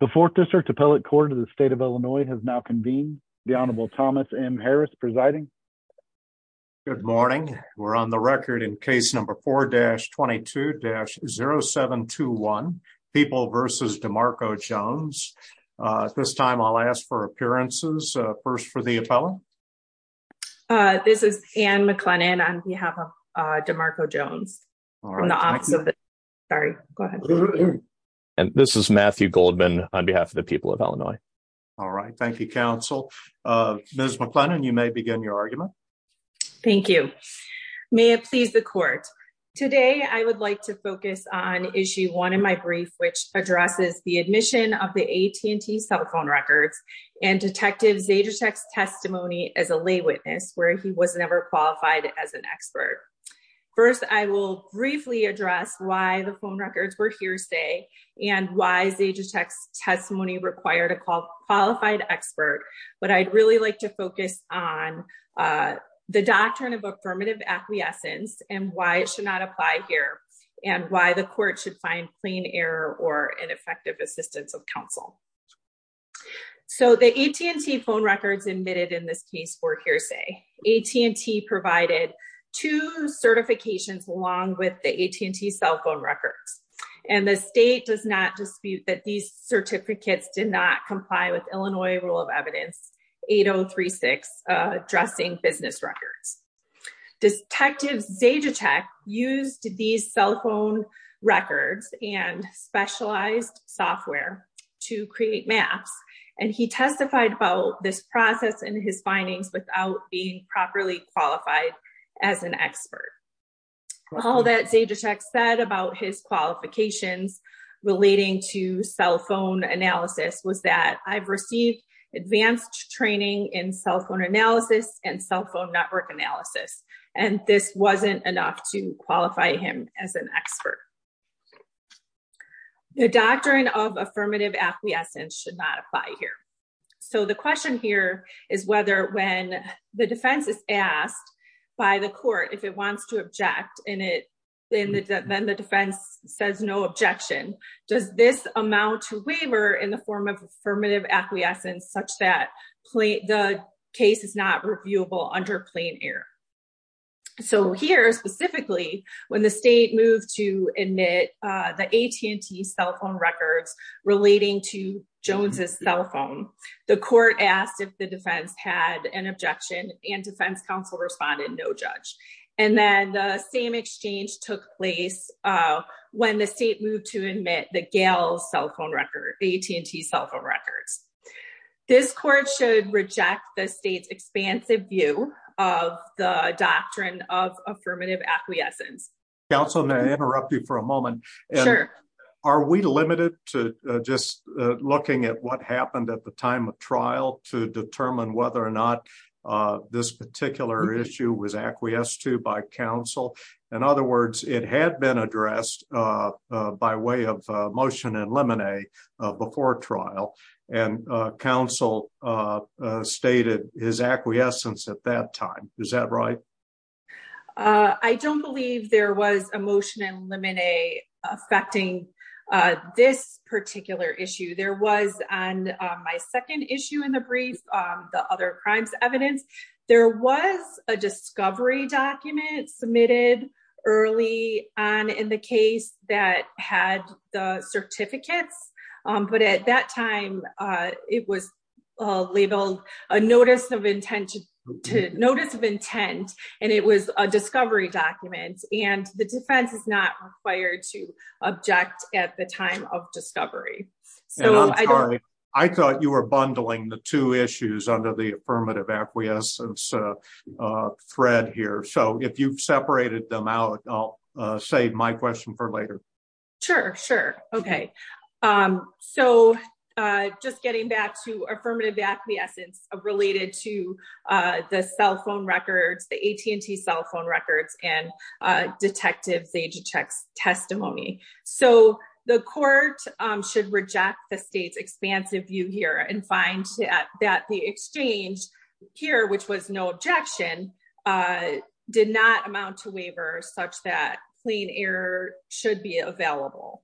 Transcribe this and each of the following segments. The fourth district appellate court of the state of Illinois has now convened the Honorable Thomas M. Harris presiding. Good morning. We're on the record in case number 4-22-0721. People versus DeMarco Jones. This time I'll ask for appearances. First for the appellant. This is Anne McLennan on behalf of DeMarco Jones. And this is Matthew Goldman on behalf of the people of Illinois. All right. Thank you, counsel. Ms. McLennan, you may begin your argument. Thank you. May it please the court. Today, I would like to focus on issue one in my brief, which addresses the admission of the AT&T cell phone records and Detective Zajacek's testimony as a lay witness where he was never qualified as an expert. First, I will briefly address why the phone records were hearsay and why Zajacek's testimony required a qualified expert. But I'd really like to focus on the doctrine of affirmative acquiescence and why it should not apply here and why the court should find plain error or ineffective assistance of counsel. So the AT&T phone records admitted in this case for hearsay. AT&T provided two certifications along with the AT&T cell phone records. And the state does not dispute that these certificates did not comply with Illinois rule of evidence 8036 addressing business records. Detective Zajacek used these cell phone records and specialized software to create maps. And he testified about this process and his findings without being properly qualified as an expert. All that Zajacek said about his qualifications relating to cell phone analysis was that I've received advanced training in cell phone analysis and cell phone network analysis. And this wasn't enough to should not apply here. So the question here is whether when the defense is asked by the court if it wants to object in it, then the defense says no objection. Does this amount to waiver in the form of affirmative acquiescence such that the case is not reviewable under plain error? So here specifically, when the state moved to admit the AT&T cell phone records relating to Jones's cell phone, the court asked if the defense had an objection and defense counsel responded no judge. And then the same exchange took place when the state moved to admit the gals cell phone record AT&T cell phone records. This court should reject the state's doctrine of affirmative acquiescence. Councilman, I interrupt you for a moment. Are we limited to just looking at what happened at the time of trial to determine whether or not this particular issue was acquiesced to by counsel? In other words, it had been addressed by way of motion and I don't believe there was a motion and limine affecting this particular issue. There was on my second issue in the brief, the other crimes evidence, there was a discovery document submitted early on in the case that had the certificates. But at that time, it was labeled a notice of intention to notice of intent. And it was a discovery document and the defense is not required to object at the time of discovery. I thought you were bundling the two issues under the affirmative acquiescence thread here. So if you've separated them out, I'll save my question for later. Sure, sure. Okay. So just getting back to affirmative acquiescence related to the cell phone records, the AT&T cell phone records and detectives agent checks testimony. So the court should reject the state's expansive view here and find that the exchange here, which was no objection, did not amount to waiver such that clean error should be available.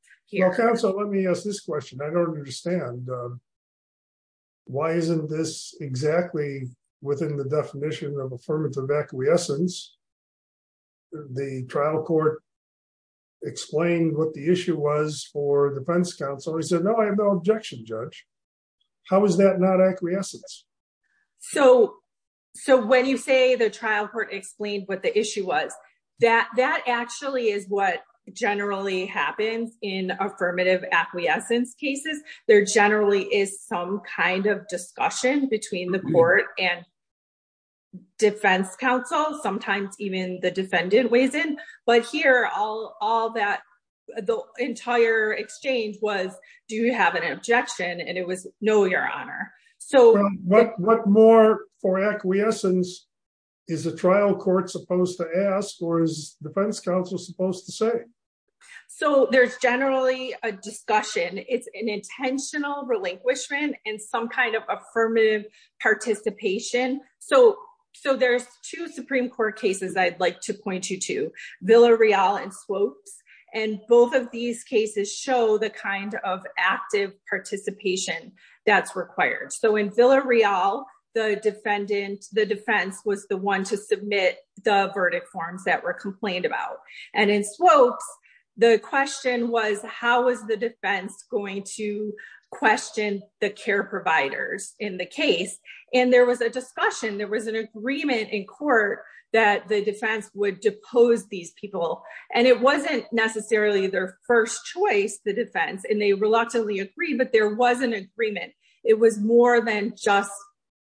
Counsel, let me ask this question. I don't understand. Why isn't this exactly within the definition of affirmative acquiescence? The trial court explained what the issue was for defense counsel, he said, No, I have no objection, judge. How is that not acquiescence? So, so when you say the trial court explained what the issue was, that that actually is what generally happens in affirmative acquiescence cases, there generally is some kind of discussion between the court and defense counsel, sometimes even the defendant weighs in. But here, all that the entire exchange was, do you have an objection? And it was no, Your Honor. So what more for acquiescence? Is the trial court supposed to ask or is defense counsel supposed to say? So there's generally a discussion, it's an intentional relinquishment and some kind of affirmative participation. So, so there's two Supreme Court cases, I'd like to point you to Villarreal and Swopes. And both of these cases show the kind of active participation that's required. So in Villarreal, the defendant, the defense was the one to submit the verdict forms that were complained about. And in Swopes, the question was, how is the defense going to question the care providers in the case? And there was a discussion, there was an agreement in court that the defense would depose these people. And it wasn't necessarily their first choice, the defense, and they reluctantly agreed, but there was an agreement. It was more than just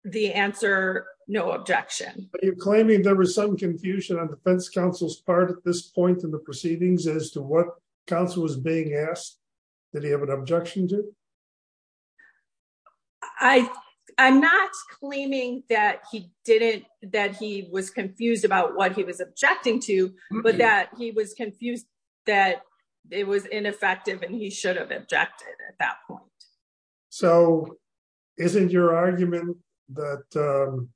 the answer, no objection. You're claiming there was some confusion on defense counsel's part at this point in the proceedings as to what counsel was being asked. Did he have an objection to? I, I'm not claiming that he didn't, that he was confused about what he was objecting to, but that he was confused that it was ineffective, and he should have objected at that point. So isn't your argument that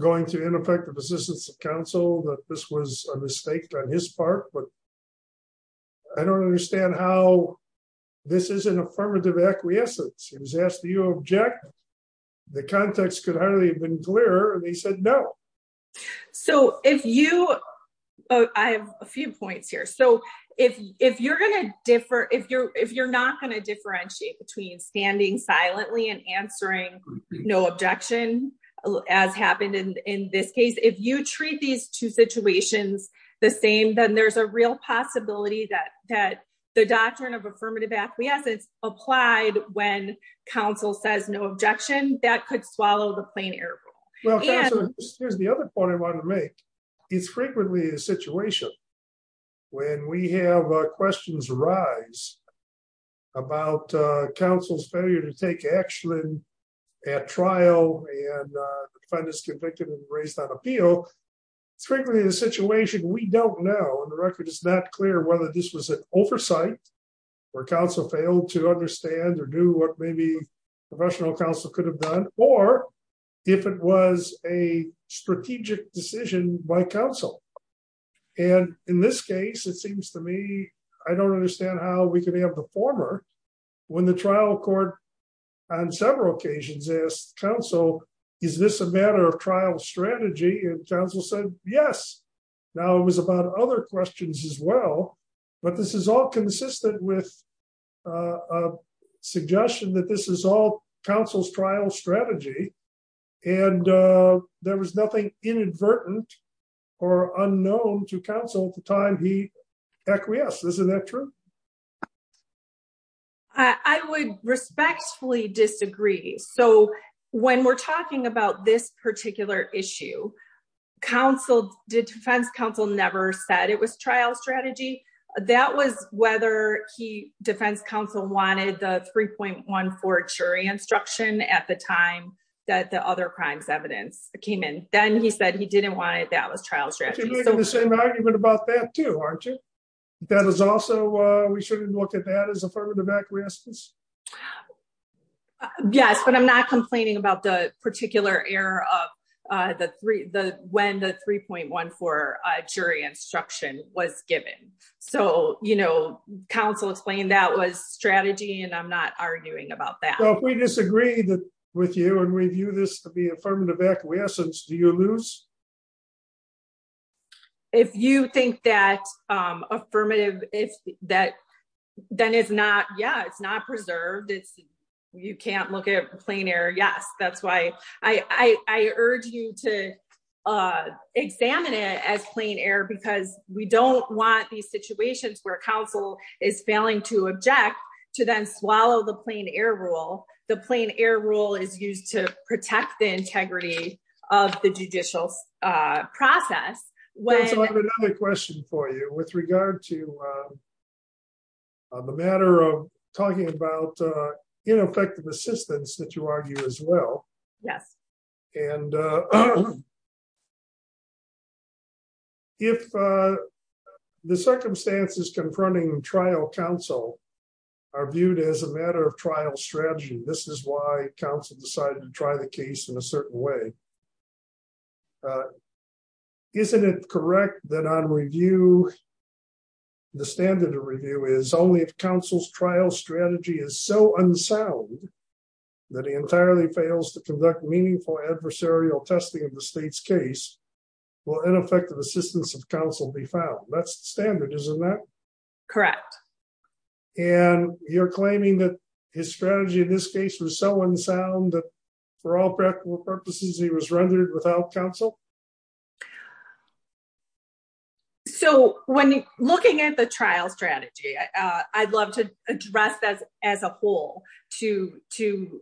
going to ineffective assistance of counsel, that this was a mistake on his part, but I don't understand how this is an affirmative acquiescence. He was asked, do you object? The context could hardly have been clearer. And he said, no. So if you, I have a few points here. So if, if you're going to differ, if you're, if you're not going to differentiate between standing silently and answering no objection, as happened in this case, if you treat these two situations the same, then there's a real possibility that, that the doctrine of affirmative acquiescence applied when counsel says no objection, that could swallow the plain air rule. Here's the other point I wanted to make. It's frequently a situation when we have questions arise about counsel's failure to take action at trial and defendant is convicted and raised on appeal. It's frequently a situation we don't know, and the record is not clear whether this was an oversight, where counsel failed to understand or knew what maybe professional counsel could have done, or if it was a strategic decision by counsel. And in this case, it seems to me, I don't understand how we can have the former, when the trial court on several occasions asked counsel, is this a matter of trial strategy? And counsel said, yes. Now it was about other questions as well. But this is all consistent with a suggestion that this is all counsel's trial strategy. And there was nothing inadvertent or unknown to counsel at the time he acquiesced. Isn't that true? I would respectfully disagree. So when we're talking about this particular issue, counsel, defense counsel never said it was trial strategy. That was whether defense counsel wanted the 3.14 jury instruction at the time that the other crimes evidence came in. Then he said he didn't want it. That was trial strategy. You're making the same argument about that too, aren't you? That is also, we shouldn't look at that as affirmative acquiescence? Yes, but I'm not complaining about the particular error of the three, the when the 3.14 jury instruction was given. So, you know, counsel explained that was strategy, and I'm not arguing about that. So if we disagree with you, and we view this to be affirmative acquiescence, do you lose? If you think that affirmative, if that, then it's not, yeah, it's not preserved. It's, you can't look at plain error. Yes, that's why I urge you to examine it as plain error, because we don't want these the plain error rule is used to protect the integrity of the judicial process. When another question for you with regard to the matter of talking about ineffective assistance that you argue as well. Yes. And if the circumstances confronting trial counsel are viewed as a matter of trial strategy, this is why counsel decided to try the case in a certain way. Isn't it correct that on review, the standard of review is only if counsel's trial strategy is so unsound, that he entirely fails to conduct meaningful adversarial testing of the state's case, will ineffective assistance of counsel be found? That's the standard, isn't that? Correct. And you're claiming that his strategy in this case was so unsound that for all practical purposes, he was rendered without counsel? So when looking at the trial strategy, I'd love to address that as a whole to to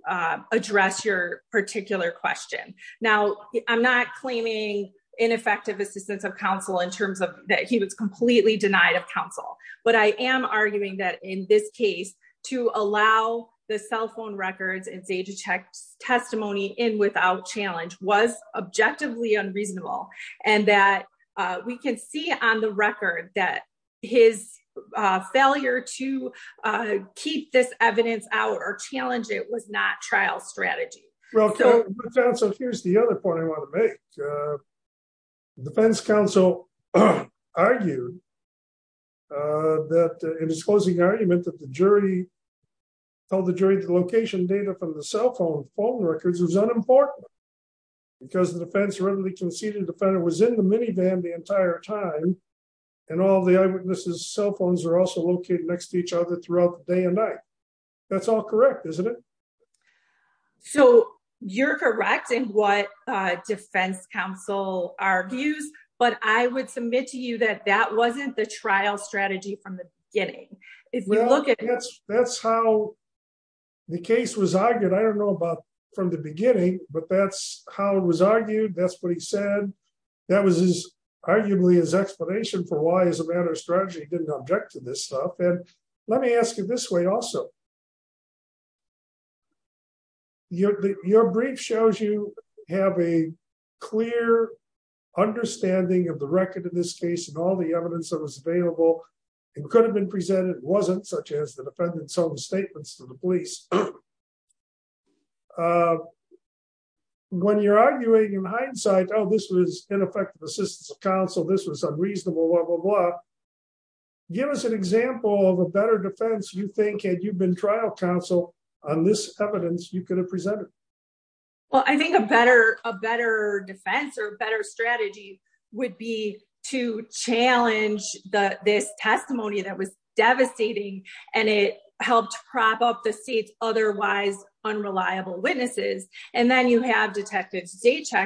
address your particular question. Now, I'm not claiming ineffective assistance of counsel in terms of that he was completely denied of counsel. But I am arguing that in this case, to allow the cell phone records and say to check testimony in without challenge was objectively unreasonable. And that we can see on the record that his failure to keep this evidence out or challenge it was not trial strategy. Well, here's the other point I want to make. Defense counsel argued that in his closing argument that the jury told the jury the location data from the cell phone phone records is unimportant. Because the defense readily conceded the defendant was in the minivan the entire time. And all the eyewitnesses cell phones are also located next to each other throughout the day and night. That's all correct, isn't it? So you're correct in what defense counsel argues, but I would submit to you that that wasn't the trial strategy from the beginning. If we look at it, that's how the case was argued. I don't know about from the beginning, but that's how it was argued. That's what he said. That was arguably his explanation for why as a matter of strategy, he didn't object to this stuff. And let me ask you this way also. Your brief shows you have a clear understanding of the record in this case and all the evidence that was available and could have been presented wasn't such as the defendant's own statements to the police. When you're arguing in hindsight, oh, this was ineffective assistance of counsel, this was unreasonable, blah, blah, blah. Give us an example of a better defense you think had you been trial counsel on this evidence you could have presented? Well, I think a better defense or better strategy would be to challenge this testimony that was devastating, and it helped prop up the state's otherwise unreliable witnesses. And then you have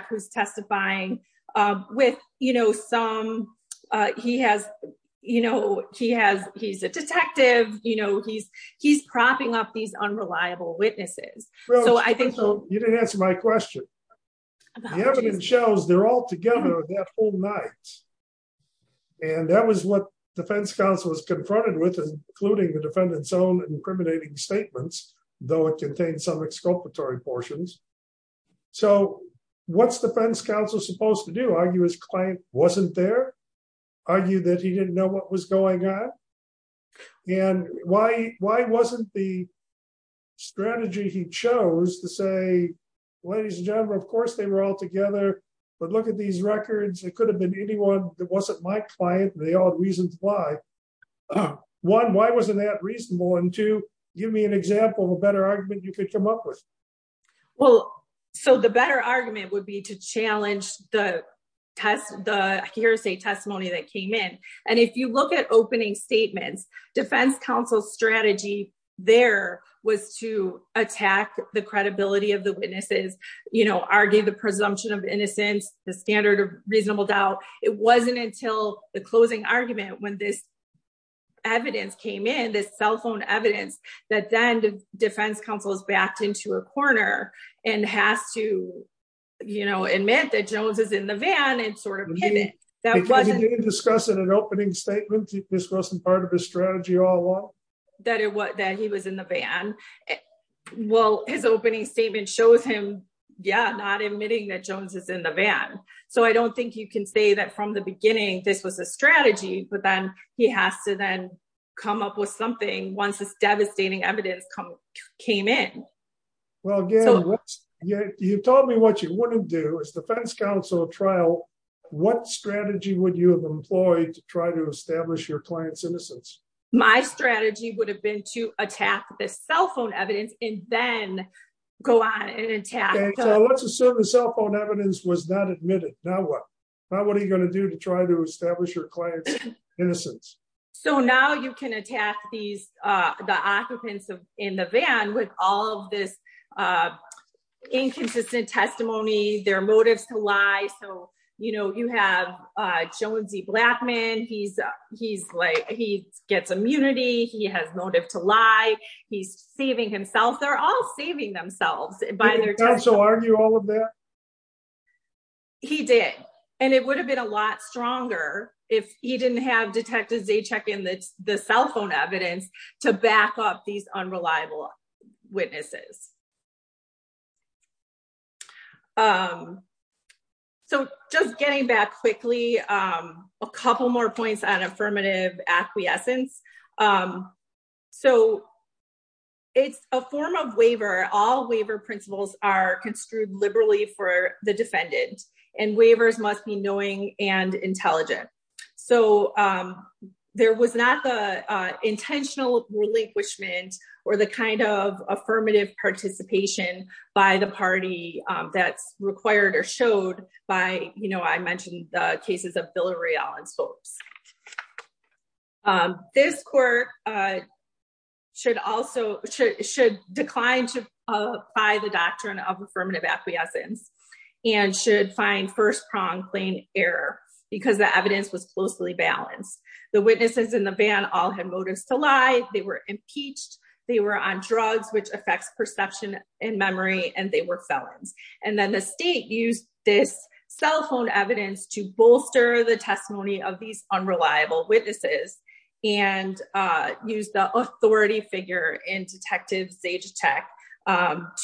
who's testifying with, you know, some, he has, you know, he has, he's a detective, you know, he's, he's propping up these unreliable witnesses. You didn't answer my question. The evidence shows they're all together that whole night. And that was what defense counsel was confronted with, including the defendant's own incriminating statements, though it contains some exculpatory portions. So what's defense counsel supposed to do argue his client wasn't there? Are you that he didn't know what was going on? And why, why wasn't the strategy he chose to say, ladies and gentlemen, of course, they were all together. But look at these records, it could have been anyone that wasn't my client, they all reasoned why. One, why wasn't that reasonable? And to give me an example of a better argument you could come up with? Well, so the better argument would be to challenge the test, the hearsay testimony that came in. And if you look at opening statements, defense counsel strategy, there was to attack the credibility of the witnesses, you know, argue the presumption of innocence, the standard of reasonable doubt, it this cell phone evidence that then defense counsel is backed into a corner and has to, you know, admit that Jones is in the van and sort of pivot. That wasn't discussed in an opening statement. This wasn't part of his strategy all along. That it was that he was in the van. Well, his opening statement shows him. Yeah, not admitting that Jones is in the van. So I don't think you can say that from the beginning, this was a strategy, but he has to then come up with something once this devastating evidence come came in. Well, again, you told me what you wouldn't do is defense counsel trial. What strategy would you have employed to try to establish your client's innocence? My strategy would have been to attack the cell phone evidence and then go on and attack. Let's assume the cell phone evidence was not admitted. Now what? Now what are you going to do to try to So now you can attack these the occupants in the van with all of this inconsistent testimony, their motives to lie. So, you know, you have Jonesy Blackman. He's he's like he gets immunity. He has motive to lie. He's saving himself. They're all saving themselves by their counsel. Did the counsel argue all of that? He did. And it would have been a lot stronger if he didn't have detectives they check in the cell phone evidence to back up these unreliable witnesses. So just getting back quickly, a couple more points on affirmative acquiescence. So it's a form of waiver. All waiver principles are construed liberally for the defendant and waivers must be knowing and intelligent. So there was not the intentional relinquishment or the kind of affirmative participation by the party that's required or showed by you know, I mentioned the cases of Bill O'Reilly felons folks. This court should also should decline to apply the doctrine of affirmative acquiescence and should find first prong plain error because the evidence was closely balanced. The witnesses in the van all had motives to lie. They were impeached. They were on drugs, which affects perception and memory and they were felons. And then the state used this cell phone evidence to bolster the testimony of these unreliable witnesses and use the authority figure in Detective Sage Tech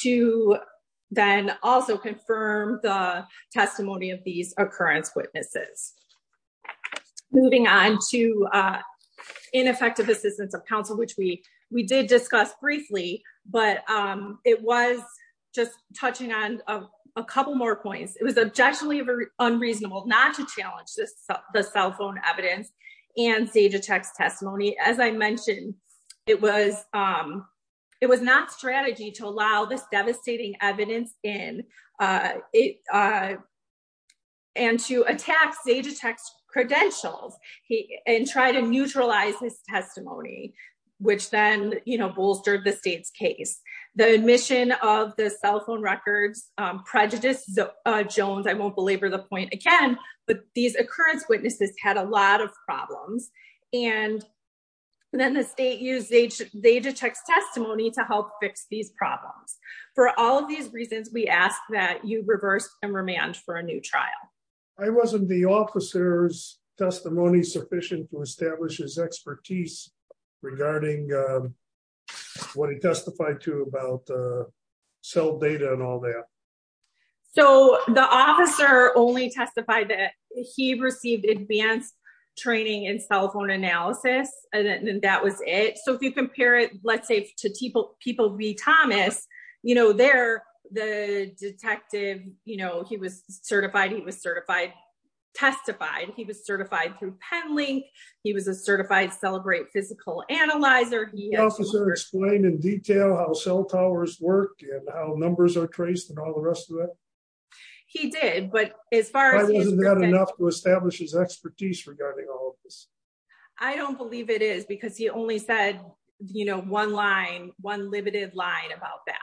to then also confirm the testimony of these occurrence witnesses. Moving on to ineffective assistance of counsel, which we we did discuss briefly, but it was just touching on a couple more points. It was objectionably unreasonable not to challenge the cell phone evidence and Sage Tech's testimony. As I mentioned, it was it was not strategy to allow this devastating evidence in it and to attack Sage Tech's credentials and try to neutralize his testimony, which then, you know, bolstered the state's case. The admission of the cell phone records prejudice Jones, I won't belabor the point again, but these occurrence witnesses had a lot of problems. And then the state used Sage Tech's testimony to help fix these problems. For all of these reasons, we ask that you reverse and remand for a new trial. I wasn't the officer's testimony sufficient to establish his expertise regarding what he testified to about cell data and all that. So the officer only testified that he received advanced training in cell phone analysis. And that was it. So if you compare it, let's say to people, people read Thomas, you know, they're the detective, you know, he was certified, he was certified, testified, he was certified through Penlink. He was a certified Celebrate physical analyzer. The officer explained in detail how cell towers work and how numbers are traced and all the rest of it. He did, but as far as- Why wasn't that enough to establish his expertise regarding all of this? I don't believe it is because he only said, you know, one line, one limited line about that.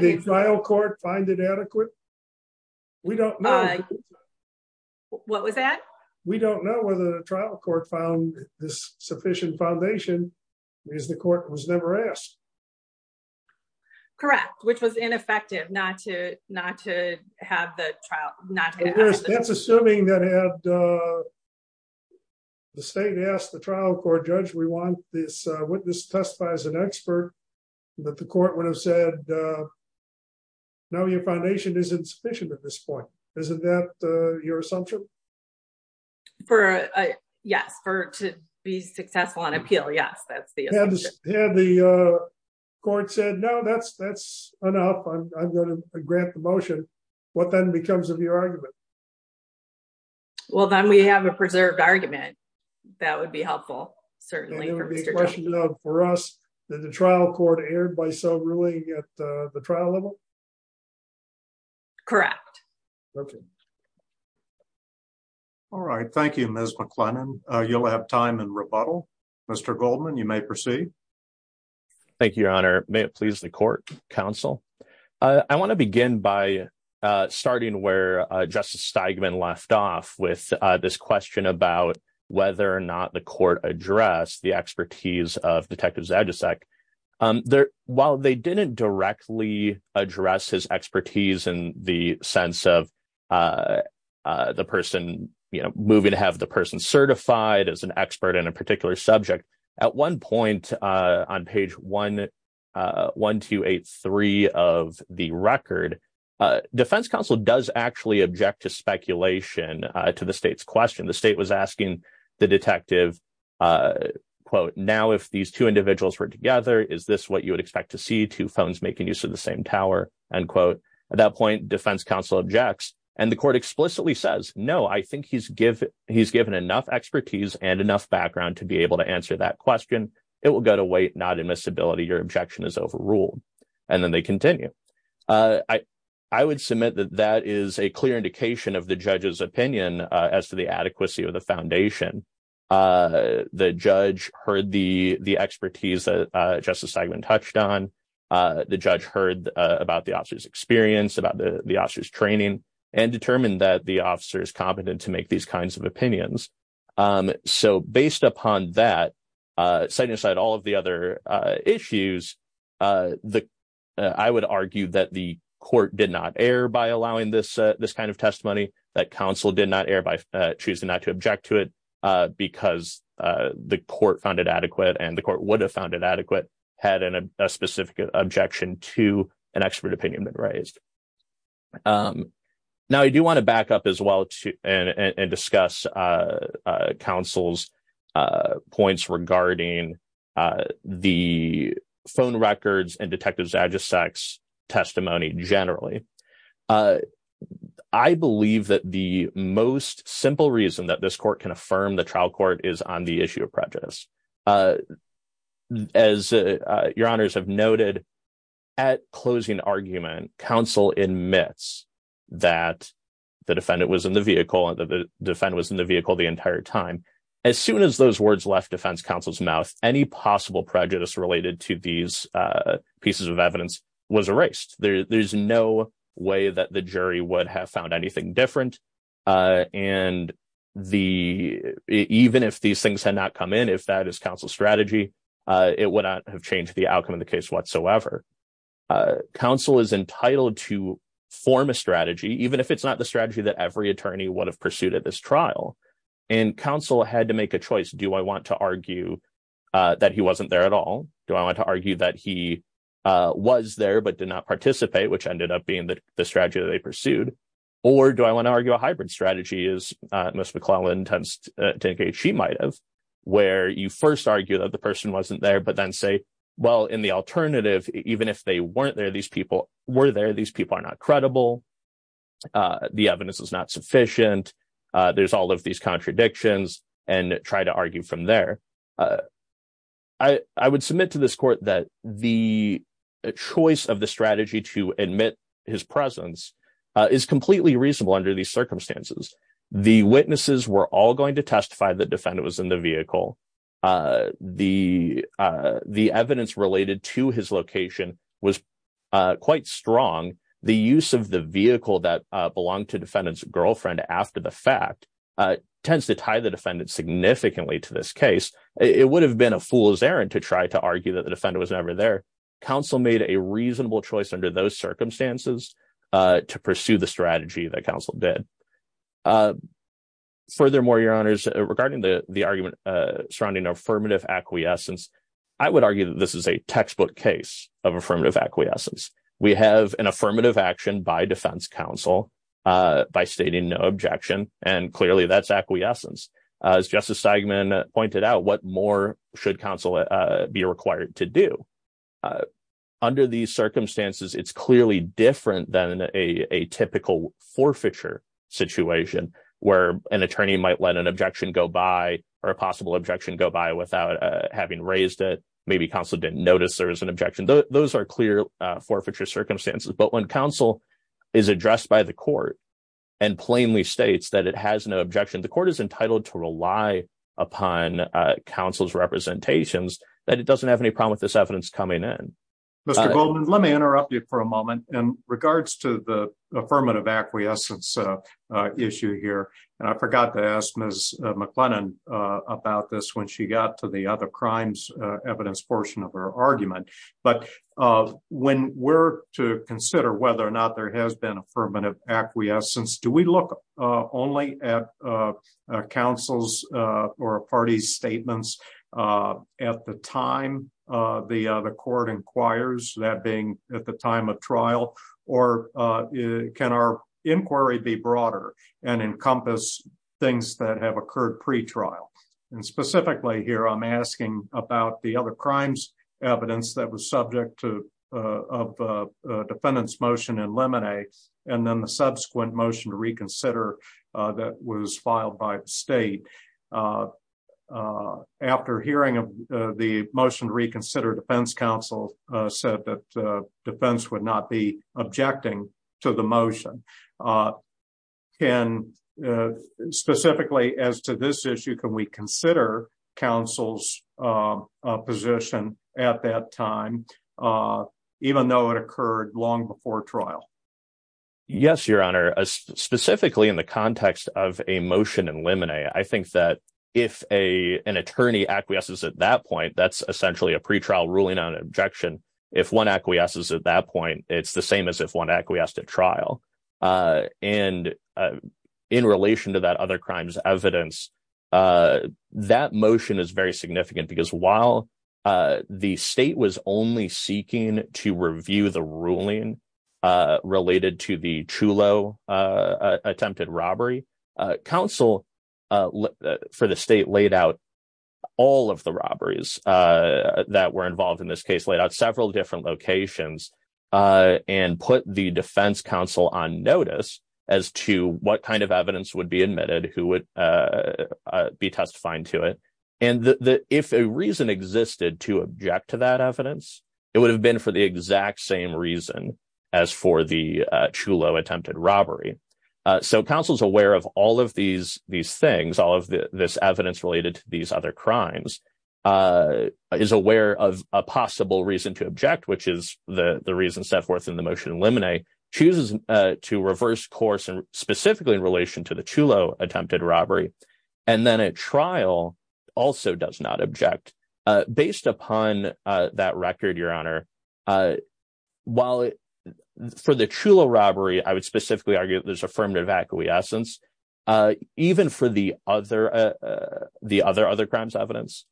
Did the trial court find it adequate? We don't know. What was that? We don't know whether the trial court found this sufficient foundation, because the court was never asked. Correct, which was ineffective not to not to have the trial- That's assuming that had the state asked the trial court judge, we want this witness to testify as an expert, that the court would have said, no, your foundation isn't sufficient at this point. Isn't that your assumption? For, yes, for to be successful on appeal. Yes, that's the assumption. Had the court said, no, that's that's enough. I'm going to grant the motion. What then becomes of your argument? Well, then we have a preserved argument. That would be helpful, certainly for Mr. It would be a question of, for us, that the trial court erred by so ruling at the trial level? Correct. All right. Thank you, Ms. McLennan. You'll have time in rebuttal. Mr. Goldman, you may proceed. Thank you, Your Honor. May it please the court, counsel. I want to begin by starting where Justice Steigman left off with this question about whether or not the court addressed the expertise of Detective Zajacek. While they didn't directly address his expertise in the sense of the person, you know, moving to have the person certified as an expert in a particular subject, at one point, on page 11283 of the record, Defense Council does actually object to speculation to the state's question. The state was asking the detective, quote, now, if these two individuals were together, is this what you would expect to see two phones making use of the same tower? End quote. At that point, Defense Council objects and the court explicitly says, no, I think he's given enough expertise and enough background to be able to answer that question. It will go to wait, not admissibility. Your objection is overruled. And then they continue. I would submit that that is a clear indication of the judge's opinion as to the adequacy of the foundation. The judge heard the expertise that Justice Steigman touched on. The judge heard about the officer's experience, about the officer's training, and determined that the officer is competent to make these kinds of opinions. So based upon that, setting aside all of the other issues, I would argue that the court did not err by allowing this kind of testimony, that counsel did not err by choosing not to object to it. Because the court found it adequate and the court would have found it adequate had a specific objection to an expert opinion been raised. Now, I do want to back up as well and discuss counsel's points regarding the phone records and Detective Zajicak's testimony generally. I believe that the most simple reason that this court can affirm the trial court is on the issue of prejudice. As your honors have noted, at closing argument, counsel admits that the defendant was in the vehicle and that the defendant was in the vehicle the entire time. As soon as those words left defense counsel's mouth, any possible prejudice related to these pieces of evidence was erased. There's no way that the jury would have found anything different. And even if these things had not come in, if that is counsel's strategy, it would not have changed the outcome of the case whatsoever. Counsel is entitled to form a strategy, even if it's not the strategy that every attorney would have pursued at this trial. And counsel had to make a choice. Do I want to argue that he wasn't there at all? Do I want to argue that he was there but did not participate, which ended up being the strategy that they pursued? Or do I want to argue a hybrid strategy, as Ms. McClellan tends to indicate she might have, where you first argue that the person wasn't there, but then say, well, in the alternative, even if they weren't there, these people were there, these people are not credible, the evidence is not sufficient, there's all of these contradictions, and try to argue from there. I would submit to this court that the choice of the strategy to admit his presence is completely reasonable under these circumstances. The witnesses were all going to testify that defendant was in the vehicle. The evidence related to his location was quite strong. The use of the vehicle that belonged to defendant's girlfriend after the fact tends to tie the defendant significantly to this case. It would have been a fool's errand to try to argue that the defendant was never there. Counsel made a reasonable choice under those circumstances to pursue the strategy that counsel did. Furthermore, your honors, regarding the argument surrounding affirmative acquiescence, I would argue that this is a textbook case of affirmative acquiescence. We have an affirmative action by defense counsel by stating no objection, and clearly that's acquiescence. As Justice Steigman pointed out, what more should counsel be required to do? Under these circumstances, it's clearly different than a typical forfeiture situation where an attorney might let an objection go by, or a possible objection go by, without having raised it. Maybe counsel didn't notice there was an objection. Those are clear forfeiture circumstances. But when counsel is addressed by the court and plainly states that it has no objection, the court is entitled to rely upon counsel's representations, that it doesn't have any problem with this evidence coming in. Mr. Goldman, let me interrupt you for a moment. In regards to the affirmative acquiescence issue here, and I forgot to ask Ms. McLennan about this when she got to the other crimes evidence portion of her argument, but when we're to consider whether or not there has been affirmative acquiescence, do we look only at counsel's or a party's statements? At the time the court inquires, that being at the time of trial, or can our inquiry be broader and encompass things that have occurred pre-trial? And specifically here, I'm asking about the other crimes evidence that was subject to a defendant's motion in Lemonade, and then the subsequent motion to reconsider that was filed by the state. After hearing of the motion to reconsider, defense counsel said that defense would not be objecting to the motion. And specifically as to this issue, can we consider counsel's position at that time, even though it occurred long before trial? Yes, Your Honor. Specifically in the context of a motion in Lemonade, I think that if an attorney acquiesces at that point, that's essentially a pre-trial ruling on an objection. If one acquiesces at that point, it's the same as if one acquiesced at trial. And in relation to that other crimes evidence, that motion is very significant because while the state was only seeking to review the ruling related to the Chulo attempted robbery, counsel for the state laid out all of the robberies that were involved in this case, laid out several different locations and put the defense counsel on trial. On notice as to what kind of evidence would be admitted, who would be testifying to it. And if a reason existed to object to that evidence, it would have been for the exact same reason as for the Chulo attempted robbery. So counsel's aware of all of these things, all of this evidence related to these other crimes, is aware of a possible reason to object, which is the reason set forth in the motion in Lemonade, chooses to reverse course specifically in relation to the Chulo attempted robbery, and then at trial also does not object. Based upon that record, Your Honor, while for the Chulo robbery, I would specifically argue that there's affirmative acquiescence, even for the other crimes evidence,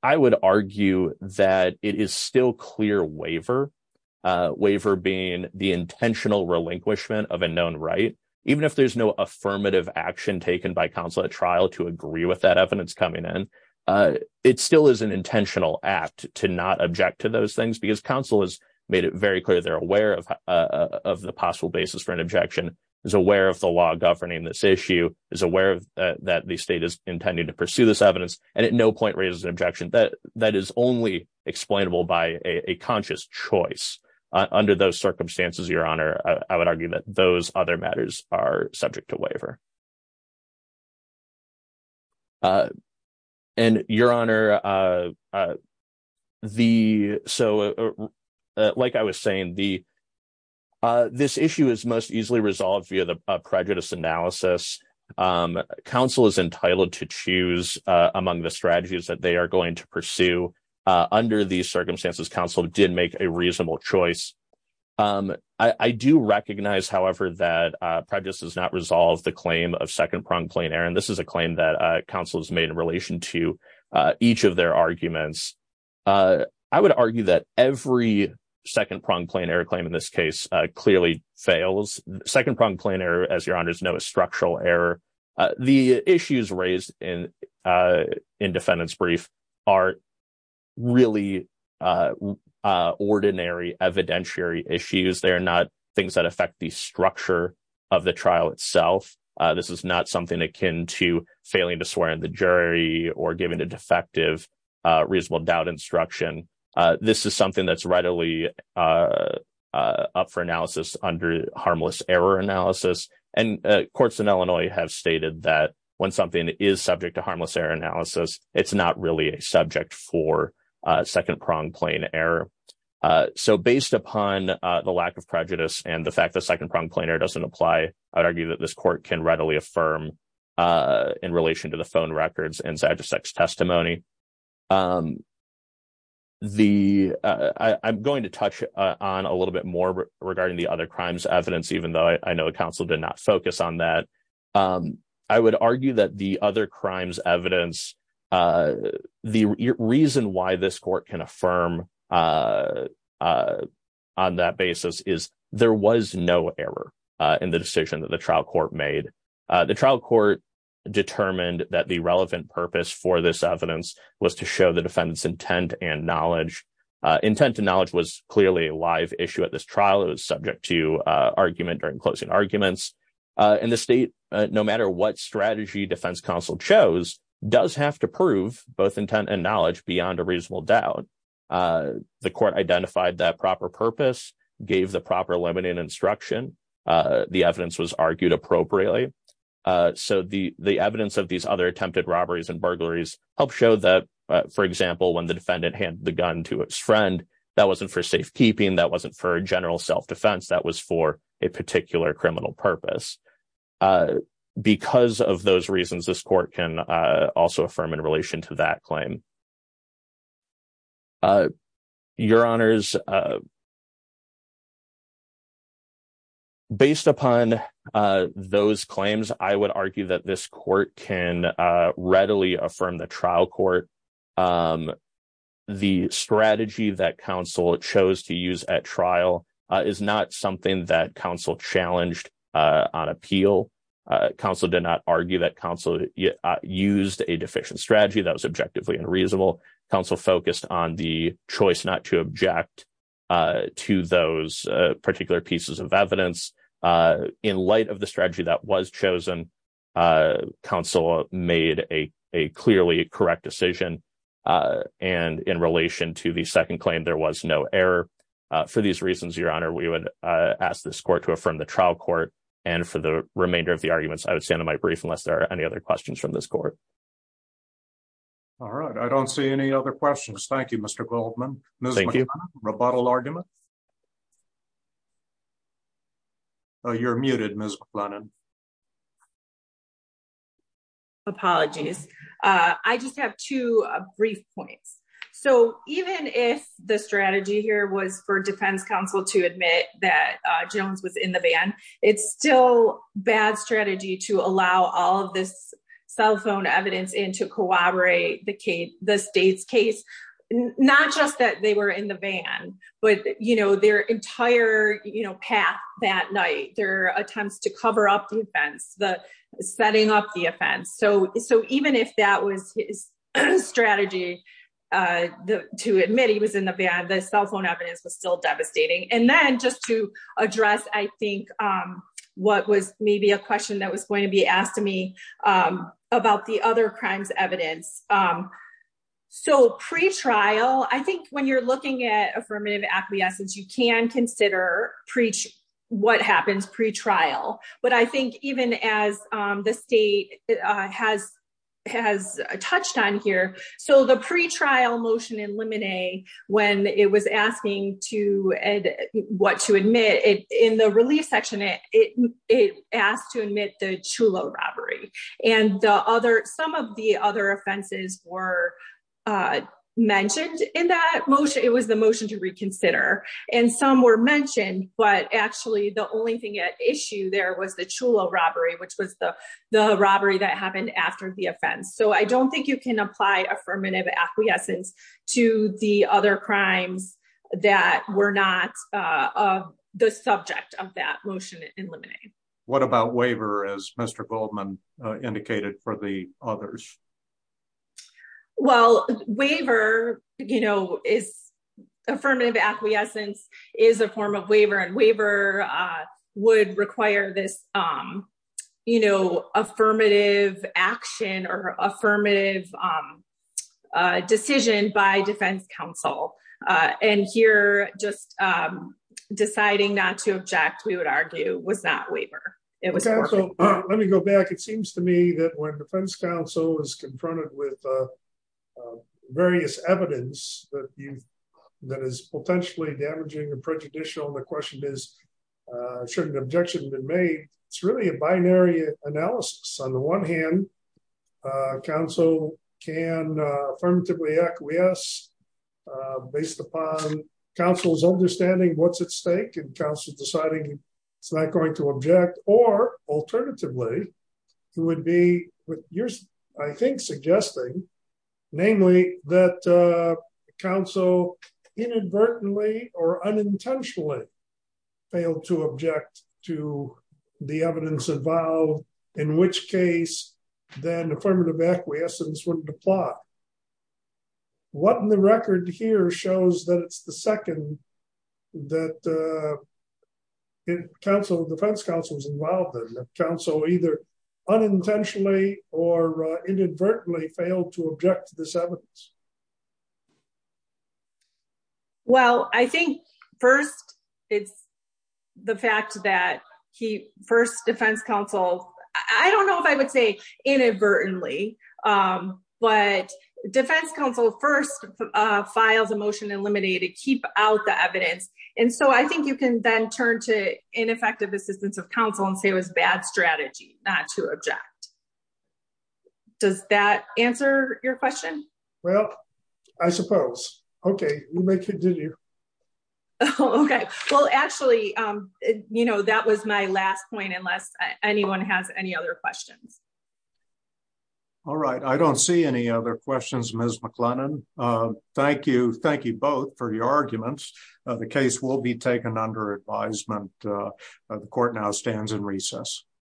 I would argue that it is still clear waiver, waiver being the intentional relinquishment of a known right. Even if there's no affirmative action taken by counsel at trial to agree with that evidence coming in, it still is an intentional act to not object to those things because counsel has made it very clear they're aware of the possible basis for an objection, is aware of the law governing this issue, is aware that the state is intending to pursue this evidence, and at no point raises an objection that that is only explainable by a conscious choice. Under those circumstances, Your Honor, I would argue that those other matters are subject to waiver. And Your Honor, like I was saying, this issue is most easily resolved via the prejudice analysis. Counsel is entitled to choose among the strategies that they are going to pursue. Under these circumstances, counsel did make a reasonable choice. I do recognize, however, that prejudice does not resolve the claim of second-pronged plain error. And this is a claim that counsel has made in relation to each of their arguments. I would argue that every second-pronged plain error claim in this case clearly fails. Second-pronged plain error, as Your Honors know, is structural error. The issues raised in defendant's brief are really ordinary evidentiary issues. They are not things that affect the structure of the trial itself. This is not something akin to failing to swear in the jury or giving a defective reasonable doubt instruction. This is something that's readily up for analysis under harmless error analysis. And courts in Illinois have stated that when something is subject to harmless error analysis, it's not really a subject for second-pronged plain error. So based upon the lack of prejudice and the fact that second-pronged plain error doesn't apply, I would argue that this court can readily affirm in relation to the phone records and Zajacek's testimony. I'm going to touch on a little bit more regarding the other crimes evidence, even though I know counsel did not focus on that. I would argue that the other crimes evidence, the reason why this court can affirm on that basis is there was no error in the decision that the trial court made. The trial court determined that the relevant purpose for this evidence was to show the defendant's intent and knowledge. Intent and knowledge was clearly a live issue at this trial. It was subject to argument during closing arguments. And the state, no matter what strategy defense counsel chose, does have to prove both intent and knowledge beyond a reasonable doubt. The court identified that proper purpose, gave the proper limiting instruction. The evidence was argued appropriately. So the evidence of these other attempted robberies and burglaries helped show that, for example, when the defendant handed the gun to his friend, that wasn't for safekeeping. That wasn't for a general self-defense. That was for a particular criminal purpose. Because of those reasons, this court can also affirm in relation to that claim. Your Honors, based upon those claims, I would argue that this court can readily affirm the trial court. The strategy that counsel chose to use at trial is not something that counsel challenged on appeal. Counsel did not argue that counsel used a deficient strategy that was objectively unreasonable. Counsel focused on the choice not to object to those particular pieces of evidence. In light of the strategy that was chosen, counsel made a clearly correct decision. And in relation to the second claim, there was no error. For these reasons, Your Honor, we would ask this court to affirm the trial court. And for the remainder of the arguments, I would stand on my brief unless there are any other questions from this court. All right. I don't see any other questions. Thank you, Mr. Goldman. Ms. McLennan, rebuttal arguments? You're muted, Ms. McLennan. Apologies. I just have two brief points. So even if the strategy here was for defense counsel to admit that Jones was in the van, it's still bad strategy to allow all of this cell phone evidence in to corroborate the state's case. Not just that they were in the van, but their entire path that night, their attempts to cover up the offense, the setting up the offense. So even if that was his strategy to admit he was in the van, the cell phone evidence was still devastating. And then just to address, I think, what was maybe a question that was going to be asked to me about the other crimes evidence. So pretrial, I think when you're looking at affirmative acquiescence, you can consider what happens pretrial. But I think even as the state has touched on here. So the pretrial motion in Lemonet, when it was asking to what to admit in the relief section, it asked to admit the Chulo robbery. And the other some of the other offenses were mentioned in that motion. It was the motion to reconsider and some were mentioned, but actually the only thing at issue there was the Chulo robbery, which was the the robbery that happened after the offense. So I don't think you can apply affirmative acquiescence to the other crimes that were not the subject of that motion in Lemonet. What about waiver, as Mr. Goldman indicated, for the others? Well, waiver, you know, is affirmative acquiescence is a form of waiver and waiver would require this, you know, affirmative action or affirmative decision by defense counsel. And here just deciding not to object, we would argue was not waiver. Let me go back. It seems to me that when defense counsel is confronted with various evidence that is potentially damaging or prejudicial. The question is, should an objection been made? It's really a binary analysis. On the one hand, counsel can affirmatively acquiesce based upon counsel's understanding what's at stake and counsel deciding it's not going to object or alternatively, it would be what you're, I think, suggesting, namely that counsel inadvertently or unintentionally failed to object to the evidence involved, in which case, then affirmative acquiescence wouldn't apply. What in the record here shows that it's the second that counsel, defense counsel was involved in, that counsel either unintentionally or inadvertently failed to object to this evidence? Well, I think first, it's the fact that he first defense counsel, I don't know if I would say inadvertently, but defense counsel first files a motion to eliminate it, keep out the evidence. And so I think you can then turn to ineffective assistance of counsel and say it was bad strategy not to object. Does that answer your question? Well, I suppose. Okay, we may continue. Okay. Well, actually, you know, that was my last point unless anyone has any other questions. All right. I don't see any other questions, Ms. McLennan. Thank you. Thank you both for your arguments. The case will be taken under advisement. The court now stands in recess.